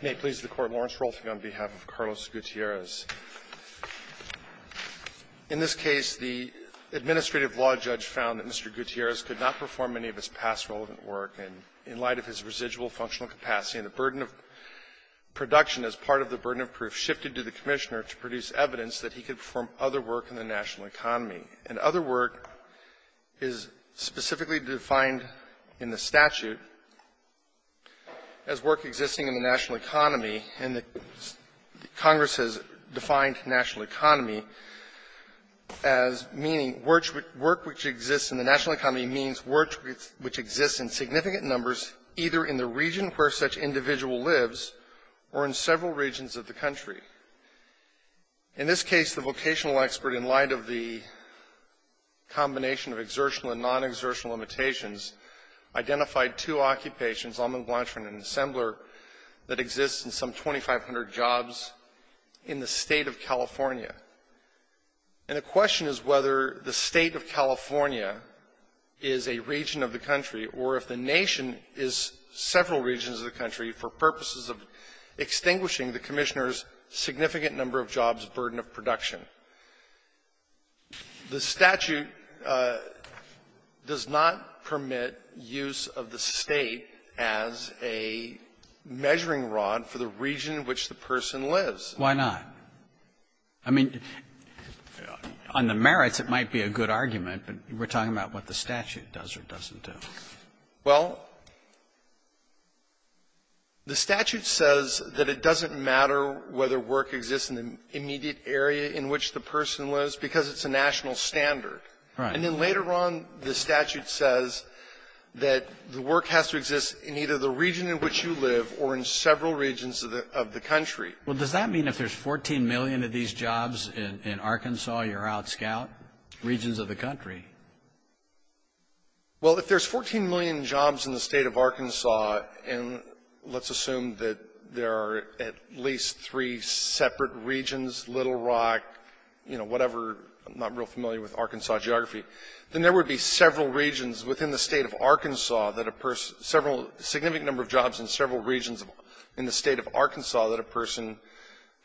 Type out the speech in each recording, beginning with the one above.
May it please the Court, Lawrence Rolfing, on behalf of Carlos Gutierrez. In this case, the administrative law judge found that Mr. Gutierrez could not perform any of his past relevant work, and in light of his residual functional capacity and the burden of production as part of the burden of proof, shifted to the Commissioner to produce evidence that he could perform other work in the national economy. And other work is specifically defined in the statute as work existing in the national economy, and the Congress has defined national economy as meaning work which exists in the national economy means work which exists in significant numbers either in the region where such individual lives or in several regions of the country. In this case, the vocational expert, in light of the combination of exertional and non-exertional limitations, identified two occupations, Almaguancher and Ensembler, that exist in some 2,500 jobs in the State of California. And the question is whether the State of California is a region of the country, or if the nation is several regions of the country, for purposes of extinguishing the Commissioner's significant number of jobs burden of production. The statute does not permit use of the State as a measuring rod for the region in which the person lives. Robertson, I mean, on the merits, it might be a good argument, but we're talking about what the statute does or doesn't do. Well, the statute says that it doesn't matter whether work exists in the immediate area in which the person lives because it's a national standard. Right. And then later on, the statute says that the work has to exist in either the region in which you live or in several regions of the country. Well, does that mean if there's 14 million of these jobs in Arkansas, you're outscout regions of the country? Well, if there's 14 million jobs in the State of Arkansas, and let's assume that there are at least three separate regions, Little Rock, you know, whatever, I'm not real familiar with Arkansas geography, then there would be several regions within the State of Arkansas that a person – several – a significant number of jobs in several regions in the State of Arkansas that a person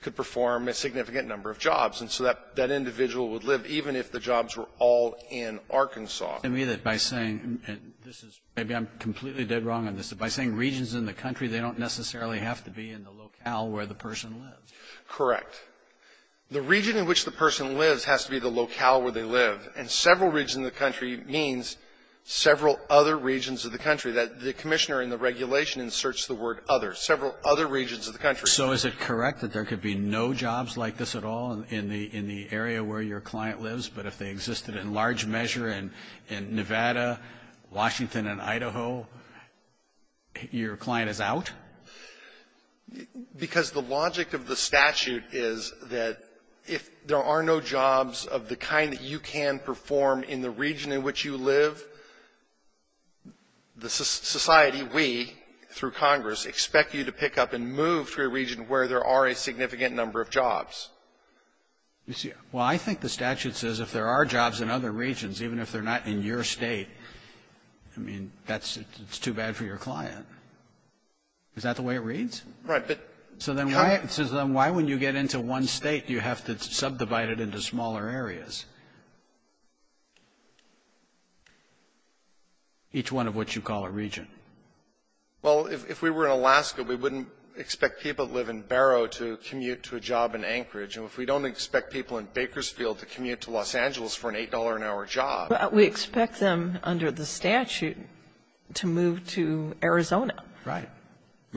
could perform a significant number of jobs. And so that individual would live even if the jobs were all in Arkansas. It would mean that by saying, and this is – maybe I'm completely dead wrong on this. But by saying regions in the country, they don't necessarily have to be in the locale where the person lives. Correct. The region in which the person lives has to be the locale where they live. And several regions in the country means several other regions of the country. The Commissioner in the regulation inserts the word other, several other regions of the country. So is it correct that there could be no jobs like this at all in the area where your client lives, but if they existed in large measure in Nevada, Washington, and Idaho, your client is out? Because the logic of the statute is that if there are no jobs of the kind that you can perform in the region in which you live, the society, we, through Congress, expect you to pick up and move to a region where there are a significant number of jobs. Well, I think the statute says if there are jobs in other regions, even if they're not in your State, I mean, that's too bad for your client. Is that the way it reads? Right. So then why, when you get into one State, do you have to subdivide it into smaller areas, each one of which you call a region? Well, if we were in Alaska, we wouldn't expect people who live in Barrow to commute to a job in Anchorage. And if we don't expect people in Bakersfield to commute to Los Angeles for an $8-an-hour job. We expect them under the statute to move to Arizona. Right.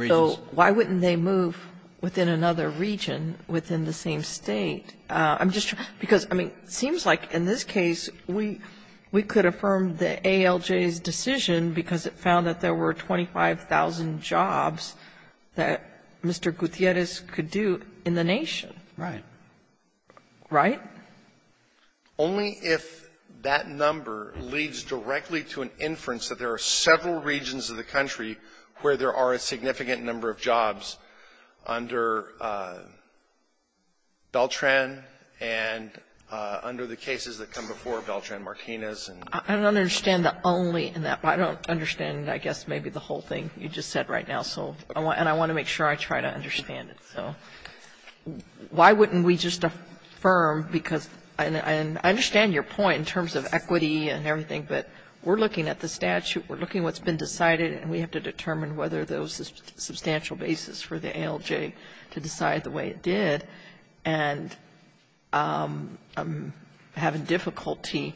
So why wouldn't they move within another region within the same State? I'm just trying to see, because, I mean, it seems like in this case, we could affirm the ALJ's decision because it found that there were 25,000 jobs that Mr. Gutierrez could do in the Nation. Right. Right? Only if that number leads directly to an inference that there are several regions of the country where there are a significant number of jobs under Beltran and under the cases that come before Beltran-Martinez. I don't understand the only in that. I don't understand, I guess, maybe the whole thing you just said right now. And I want to make sure I try to understand it. So why wouldn't we just affirm, because I understand your point in terms of equity and everything, but we're looking at the statute. We're looking at what's been decided, and we have to determine whether there was a substantial basis for the ALJ to decide the way it did. And I'm having difficulty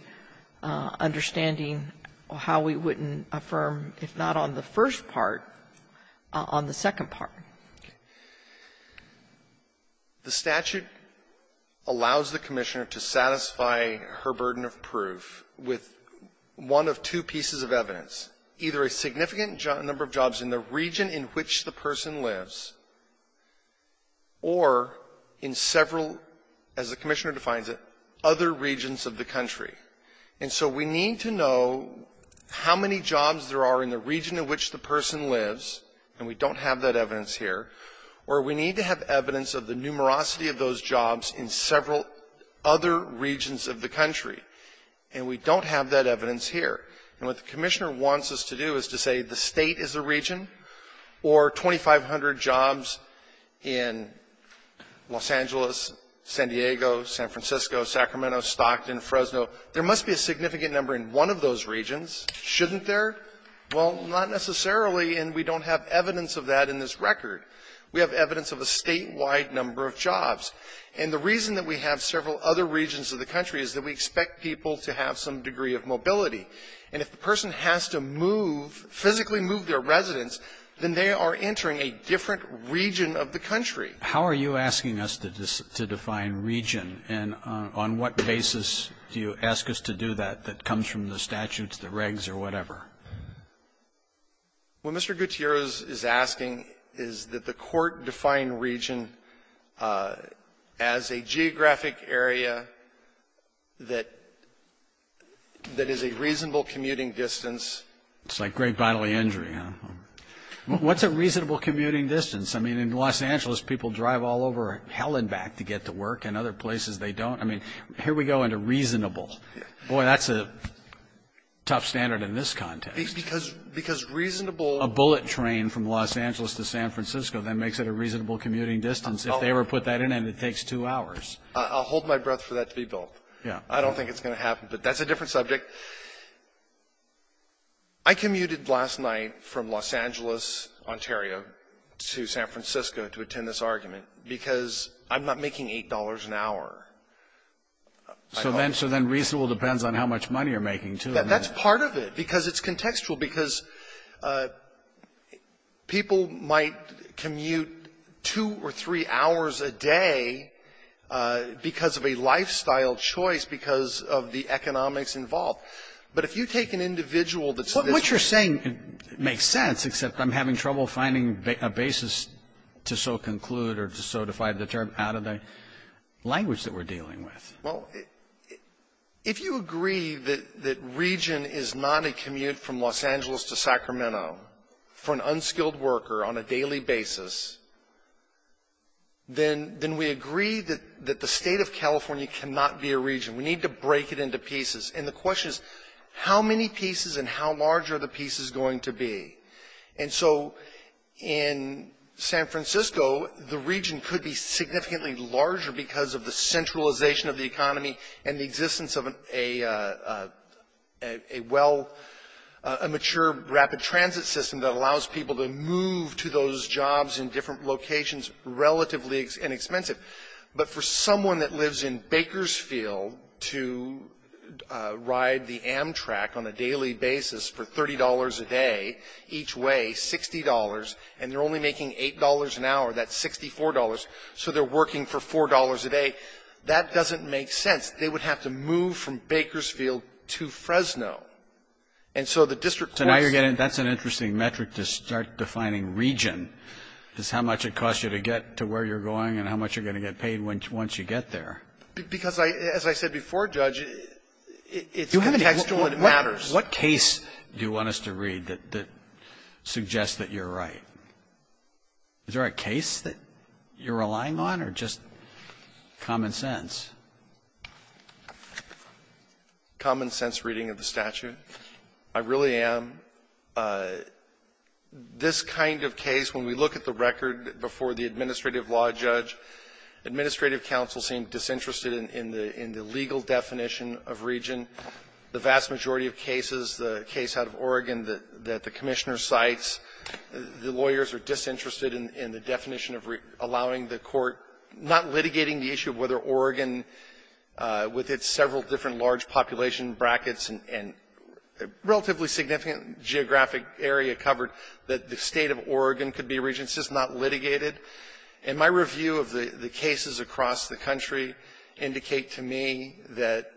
understanding how we wouldn't affirm, if not on the first part, on the second part. The statute allows the Commissioner to satisfy her burden of proof with one of two pieces of evidence, either a significant number of jobs in the region in which the person lives, or in several, as the Commissioner defines it, other regions of the country. And so we need to know how many jobs there are in the region in which the person lives, and we don't have that evidence here, or we need to have evidence of the numerosity of those jobs in several other regions of the country. And we don't have that evidence here. And what the Commissioner wants us to do is to say the State is a region, or 2,500 jobs in Los Angeles, San Diego, San Francisco, Sacramento, Stockton, Fresno. There must be a significant number in one of those regions. Shouldn't there? Well, not necessarily, and we don't have evidence of that in this record. We have evidence of a statewide number of jobs. And the reason that we have several other regions of the country is that we expect people to have some degree of mobility. And if the person has to move, physically move their residence, then they are entering a different region of the country. How are you asking us to define region, and on what basis do you ask us to do that that comes from the statutes, the regs, or whatever? What Mr. Gutierrez is asking is that the Court define region as a geographic area that is a reasonable commuting distance. It's like great bodily injury, huh? Well, what's a reasonable commuting distance? I mean, in Los Angeles, people drive all over hell and back to get to work, and other places they don't. I mean, here we go into reasonable. Boy, that's a tough standard in this context. Because reasonable ---- A bullet train from Los Angeles to San Francisco, that makes it a reasonable commuting distance. If they ever put that in, it takes two hours. I'll hold my breath for that to be built. I don't think it's going to happen, but that's a different subject. I commuted last night from Los Angeles, Ontario, to San Francisco to attend this argument because I'm not making $8 an hour. So then reasonable depends on how much money you're making, too. That's part of it, because it's contextual, because people might commute two or three hours a day because of a lifestyle choice, because of the economics involved. But if you take an individual that's ---- Roberts, what you're saying makes sense, except I'm having trouble finding a basis to so conclude or to so define the term out of the language that we're dealing with. Well, if you agree that region is not a commute from Los Angeles to Sacramento for an unskilled worker on a daily basis, then we agree that the State of California cannot be a region. We need to break it into pieces. And the question is, how many pieces and how large are the pieces going to be? And so in San Francisco, the region could be significantly larger because of the centralization of the economy and the existence of a well ---- a mature rapid transit system that allows people to move to those jobs in different locations relatively inexpensive. But for someone that lives in Bakersfield to ride the Amtrak on a daily basis for $30 a day each way, $60, and they're only making $8 an hour, that's $64, so they're working for $4 a day. That doesn't make sense. They would have to move from Bakersfield to Fresno. And so the district ---- So now you're getting ---- that's an interesting metric to start defining region, is how much it costs you to get to where you're going and how much you're going to get paid once you get there. Because, as I said before, Judge, it's contextual and it matters. What case do you want us to read that suggests that you're right? Is there a case that you're relying on or just common sense? Common sense reading of the statute. I really am. This kind of case, when we look at the record before the administrative law judge, administrative counsel seemed disinterested in the legal definition of region. The vast majority of cases, the case out of Oregon that the Commissioner cites, the lawyers are disinterested in the definition of allowing the court, not litigating the issue of whether Oregon, with its several different large population brackets and relatively significant geographic area covered, that the State of Oregon could be a region. It's just not litigated. And my review of the cases across the country indicate to me that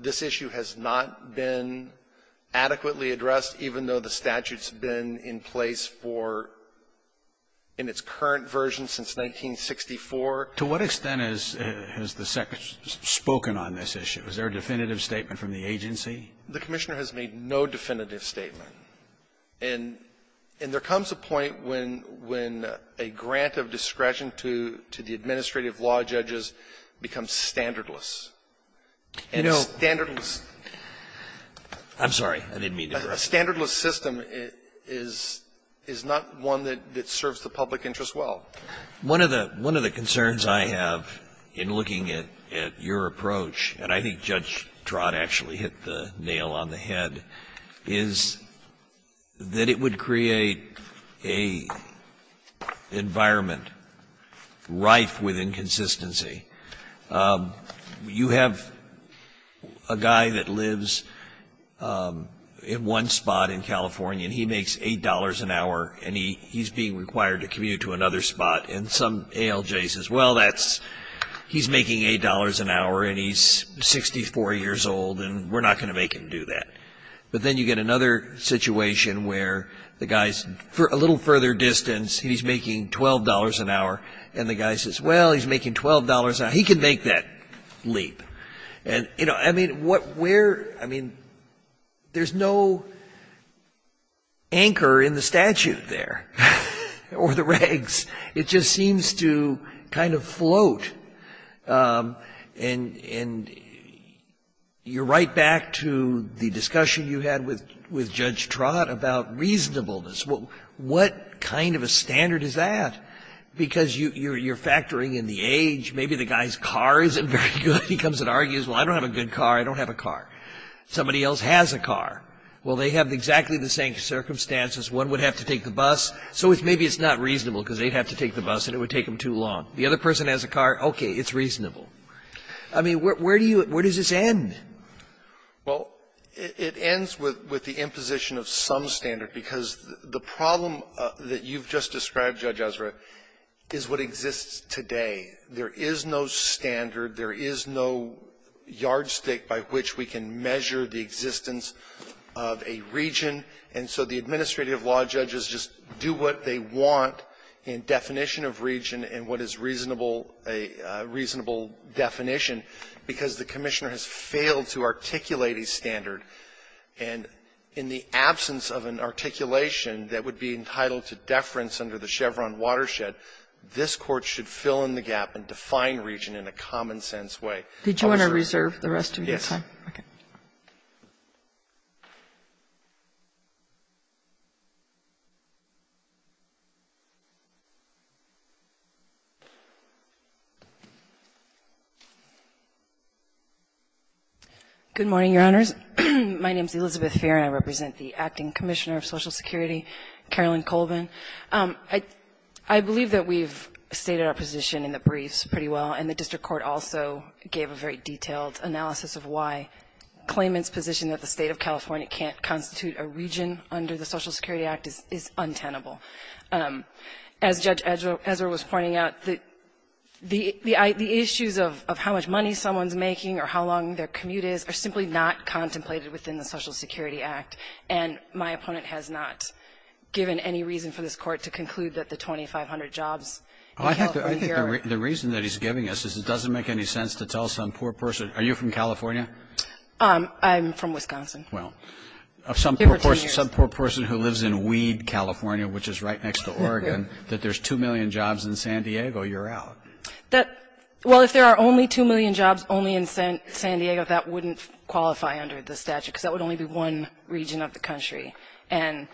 this issue has not been adequately addressed, even though the statute's been in place for ---- in its current version since 1964. To what extent has the Secretary spoken on this issue? Was there a definitive statement from the agency? The Commissioner has made no definitive statement. And there comes a point when a grant of discretion to the administrative law judges becomes standardless. And a standardless system is not one that serves the public interest well. One of the concerns I have in looking at your approach, and I think Judge Trott actually hit the nail on the head, is that it would create a environment rife with inconsistency. You have a guy that lives in one spot in California, and he makes $8 an hour, and he's being required to commute to another spot. And some ALJ says, well, that's ---- he's making $8 an hour, and he's 64 years old, and we're not going to make him do that. But then you get another situation where the guy's a little further distance, he's making $12 an hour, and the guy says, well, he's making $12 an hour. He can make that leap. And, you know, I mean, what we're ---- I mean, there's no anchor in the statute there or the regs. It just seems to kind of float. And you're right back to the discussion you had with Judge Trott about reasonableness. What kind of a standard is that? Because you're factoring in the age. Maybe the guy's car isn't very good. He comes and argues, well, I don't have a good car. I don't have a car. Somebody else has a car. Well, they have exactly the same circumstances. One would have to take the bus, so maybe it's not reasonable because they'd have to take the bus, and it would take them too long. The other person has a car, okay, it's reasonable. I mean, where do you ---- where does this end? Well, it ends with the imposition of some standard, because the problem that you've just described, Judge Ezra, is what exists today. There is no standard. There is no yardstick by which we can measure the existence of a region. And so the administrative law judges just do what they want in definition of region and what is reasonable definition, because the Commissioner has failed to articulate a standard. And in the absence of an articulation that would be entitled to deference under the Chevron watershed, this Court should fill in the gap and define region in a common-sense way. Kagan. Kagan. Did you want to reserve the rest of your time? Yes. Good morning, Your Honors. My name is Elizabeth Fehr, and I represent the Acting Commissioner of Social Security, Carolyn Colvin. I believe that we've stated our position in the briefs pretty well, and the detailed analysis of why claimants' position that the State of California can't constitute a region under the Social Security Act is untenable. As Judge Ezra was pointing out, the issues of how much money someone's making or how long their commute is are simply not contemplated within the Social Security Act, and my opponent has not given any reason for this Court to conclude that the 2,500 jobs in California are the reason that he's giving us is it doesn't make any sense to me. And so I'm going to ask you, Ms. Fehr, what is the definition of a poor person? Are you from California? I'm from Wisconsin. Well, of some poor person who lives in Weed, California, which is right next to Oregon, that there's 2 million jobs in San Diego, you're out. Well, if there are only 2 million jobs only in San Diego, that wouldn't qualify under the statute, because that would only be one region of the country, and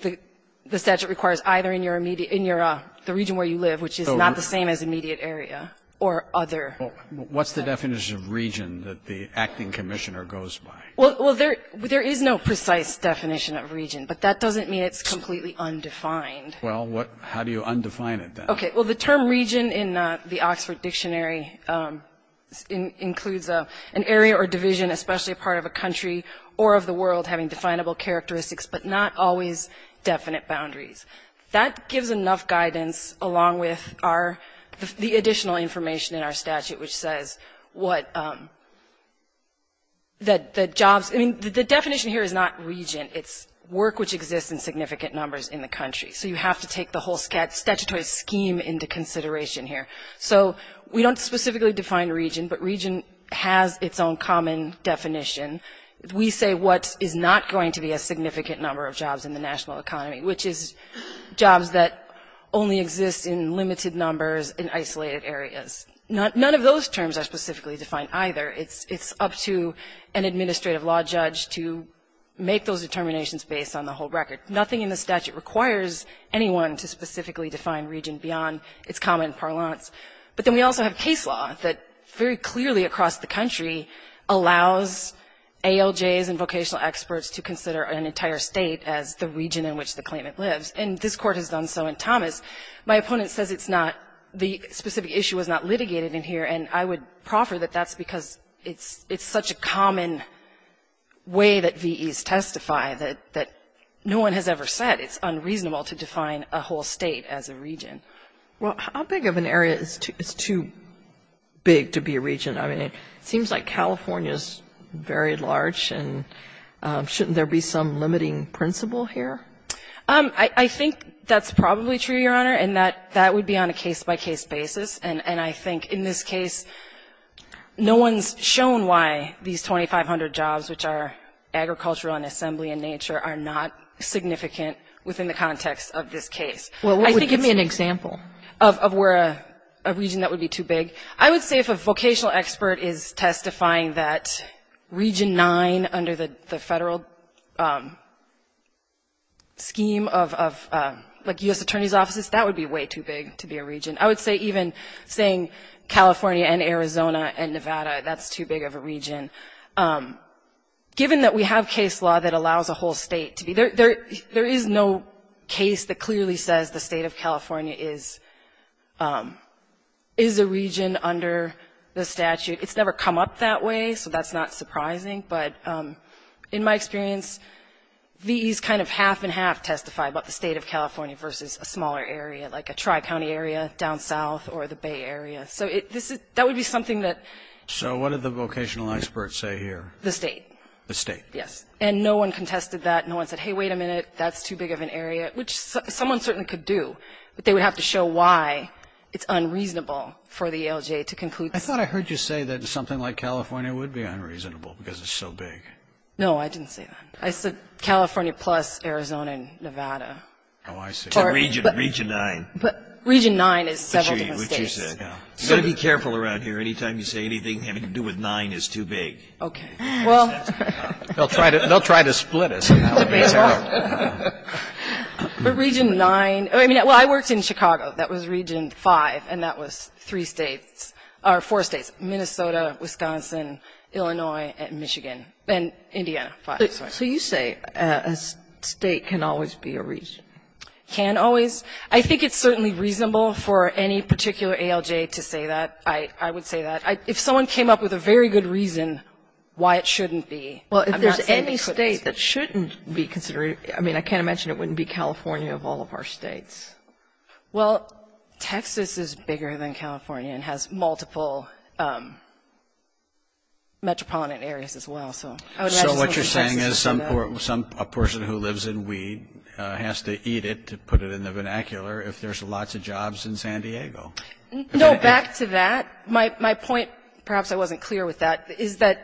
the region where you live, which is not the same as immediate area or other. What's the definition of region that the acting commissioner goes by? Well, there is no precise definition of region, but that doesn't mean it's completely undefined. Well, how do you undefine it, then? Okay. Well, the term region in the Oxford Dictionary includes an area or division, especially a part of a country or of the world, having definable characteristics, but not always definite boundaries. That gives enough guidance, along with the additional information in our statute, which says what the jobs – I mean, the definition here is not region. It's work which exists in significant numbers in the country. So you have to take the whole statutory scheme into consideration here. So we don't specifically define region, but region has its own common definition. We say what is not going to be a significant number of jobs in the national economy, which is jobs that only exist in limited numbers in isolated areas. None of those terms are specifically defined either. It's up to an administrative law judge to make those determinations based on the whole record. Nothing in the statute requires anyone to specifically define region beyond its common parlance. But then we also have case law that very clearly across the country allows ALJs and vocational experts to consider an entire state as the region in which the claimant lives. And this Court has done so in Thomas. My opponent says it's not – the specific issue was not litigated in here, and I would proffer that that's because it's such a common way that VEs testify that no one has ever said it's unreasonable to define a whole state as a region. Kagan. Well, how big of an area is too big to be a region? I mean, it seems like California is very large, and shouldn't there be some limiting principle here? I think that's probably true, Your Honor, and that would be on a case-by-case basis. And I think in this case, no one's shown why these 2,500 jobs, which are agricultural and assembly and nature, are not significant within the context of this case. Well, what would give me an example? Of where a region that would be too big. I would say if a vocational expert is testifying that region 9 under the federal scheme of, like, U.S. Attorney's offices, that would be way too big to be a region. I would say even saying California and Arizona and Nevada, that's too big of a region. Given that we have case law that allows a whole state to be – there is no case that under the statute. It's never come up that way, so that's not surprising. But in my experience, these kind of half-and-half testify about the state of California versus a smaller area, like a tri-county area down south or the Bay Area. So that would be something that – So what did the vocational expert say here? The state. The state. Yes. And no one contested that. No one said, hey, wait a minute, that's too big of an area, which someone certainly could do. But they would have to show why it's unreasonable for the ALJ to conclude – I thought I heard you say that something like California would be unreasonable because it's so big. No, I didn't say that. I said California plus Arizona and Nevada. Oh, I see. So region 9. But region 9 is several different states. Which you said, yeah. You got to be careful around here. Any time you say anything having to do with 9 is too big. Okay. Well – They'll try to split us. That's a great start. But region 9 – I mean, well, I worked in Chicago. That was region 5. And that was three states – or four states. Minnesota, Wisconsin, Illinois, and Michigan. And Indiana. So you say a state can always be a region. Can always. I think it's certainly reasonable for any particular ALJ to say that. I would say that. If someone came up with a very good reason why it shouldn't be – Well, if there's any state that shouldn't be considered – I mean, I can't imagine it wouldn't be California of all of our states. Well, Texas is bigger than California and has multiple metropolitan areas as well. So I would imagine – So what you're saying is some – a person who lives in Weed has to eat it, to put it in the vernacular, if there's lots of jobs in San Diego. No, back to that. My point – perhaps I wasn't clear with that – is that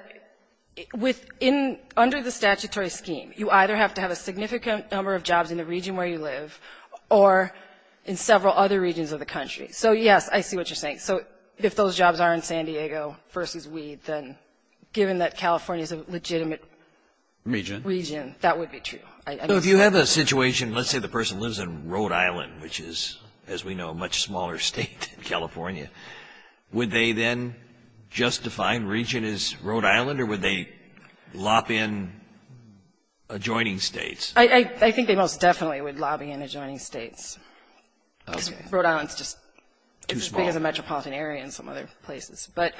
under the statutory scheme, you either have to have a significant number of jobs in the region where you live or in several other regions of the country. So, yes, I see what you're saying. So if those jobs are in San Diego versus Weed, then given that California is a legitimate region, that would be true. So if you have a situation – let's say the person lives in Rhode Island, which is, as we know, a much smaller state than California, would they then just define region as Rhode Island or would they lob in adjoining states? I think they most definitely would lobby in adjoining states. Okay. Because Rhode Island's just – Too small. It's as big as a metropolitan area and some other places. But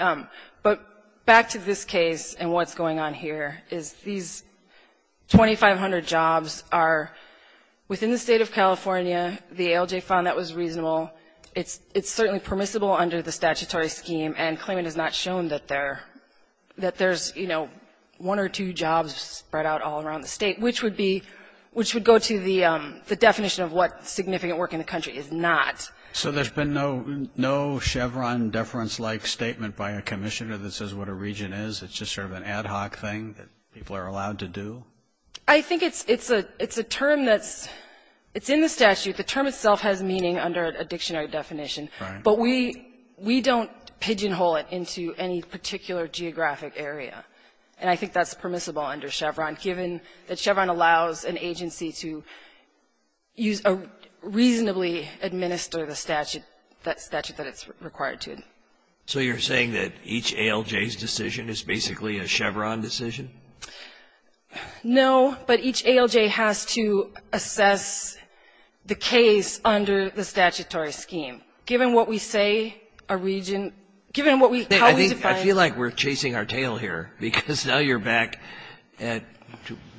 back to this case and what's going on here is these 2,500 jobs are within the state of California. The ALJ found that was reasonable. It's certainly permissible under the statutory scheme and claimant has not shown that there's one or two jobs spread out all around the state, which would go to the definition of what significant work in the country is not. So there's been no Chevron deference-like statement by a commissioner that says what a region is? It's just sort of an ad hoc thing that people are allowed to do? I think it's a term that's – it's in the statute. The term itself has meaning under a dictionary definition. But we don't pigeonhole it into any particular geographic area. And I think that's permissible under Chevron given that Chevron allows an agency to reasonably administer the statute that it's required to. So you're saying that each ALJ's decision is basically a Chevron decision? No. But each ALJ has to assess the case under the statutory scheme. Given what we say a region – given what we – how we define – I feel like we're chasing our tail here because now you're back at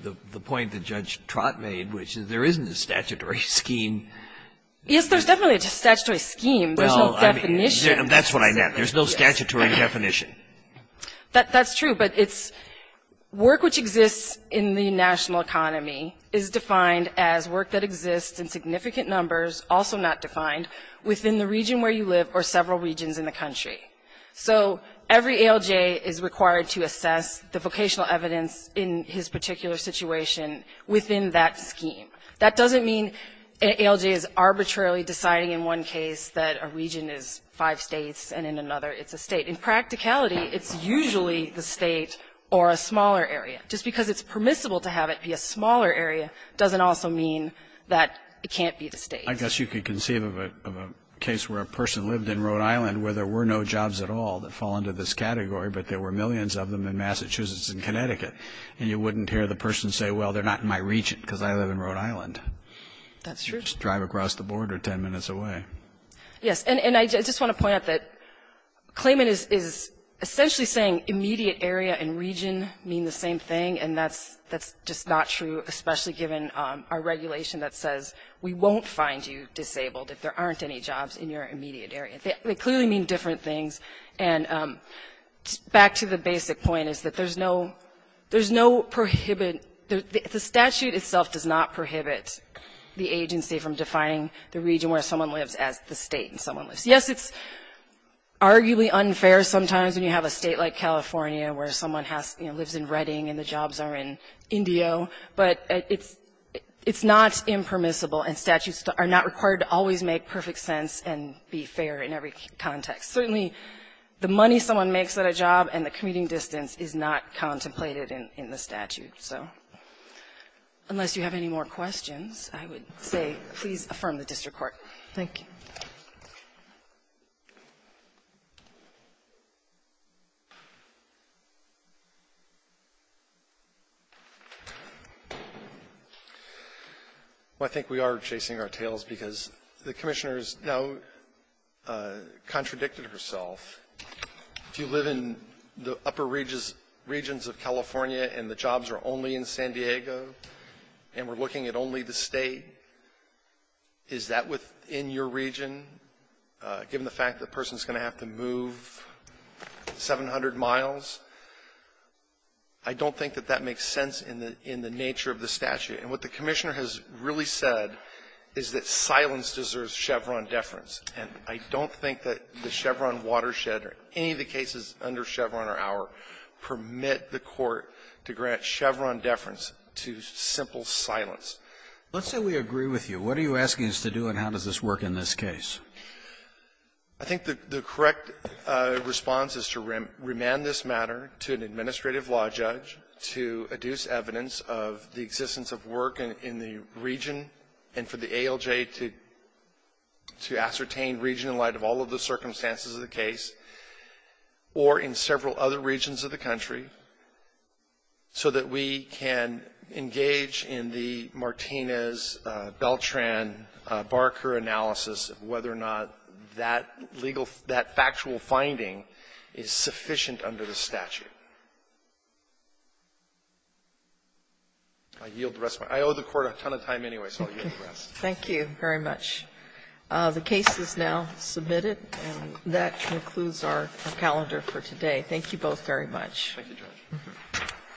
the point that Judge Trott made, which is there isn't a statutory scheme. Yes, there's definitely a statutory scheme. There's no definition. That's what I meant. There's no statutory definition. That's true. But it's work which exists in the national economy is defined as work that exists in significant numbers, also not defined, within the region where you live or several regions in the country. So every ALJ is required to assess the vocational evidence in his particular situation within that scheme. That doesn't mean an ALJ is arbitrarily deciding in one case that a region is five states and in another it's a state. In practicality, it's usually the state or a smaller area. Just because it's permissible to have it be a smaller area doesn't also mean that it can't be the state. I guess you could conceive of a case where a person lived in Rhode Island where there were no jobs at all that fall into this category, but there were millions of them in Massachusetts and Connecticut, and you wouldn't hear the person say, well, they're not in my region because I live in Rhode Island. That's true. Drive across the border 10 minutes away. Yes. And I just want to point out that claimant is essentially saying immediate area and region mean the same thing, and that's just not true, especially given our regulation that says we won't find you disabled if there aren't any jobs in your immediate area. They clearly mean different things. And back to the basic point is that there's no prohibit. The statute itself does not prohibit the agency from defining the region where someone lives as the state where someone lives. Yes, it's arguably unfair sometimes when you have a state like California where someone lives in Redding and the jobs are in Indio, but it's not impermissible, and statutes are not required to always make perfect sense and be fair in every context. Certainly, the money someone makes at a job and the commuting distance is not contemplated in the statute. So unless you have any more questions, I would say please affirm the district court. Thank you. I think we are chasing our tails because the Commissioner has now contradicted herself. If you live in the upper regions of California and the jobs are only in San Diego and we're looking at only the state, is that within your region, given the fact that the person is going to have to move 700 miles? I don't think that that makes sense in the nature of the statute. And what the Commissioner has really said is that silence deserves Chevron deference. And I don't think that the Chevron watershed or any of the cases under Chevron or our permit the court to grant Chevron deference to simple silence. Let's say we agree with you. What are you asking us to do, and how does this work in this case? I think the correct response is to remand this matter to an administrative law judge to adduce evidence of the existence of work in the region and for the ALJ to ascertain region in light of all of the circumstances of the case, or in several other regions of the country, so that we can engage in the Martinez, Beltran, Barker analysis of whether or not that legal – that factual finding is sufficient under the statute. I yield the rest of my time. I owe the Court a ton of time anyway, so I'll yield the rest. Thank you very much. The case is now submitted, and that concludes our calendar for today. Thank you both very much. Thank you, Judge.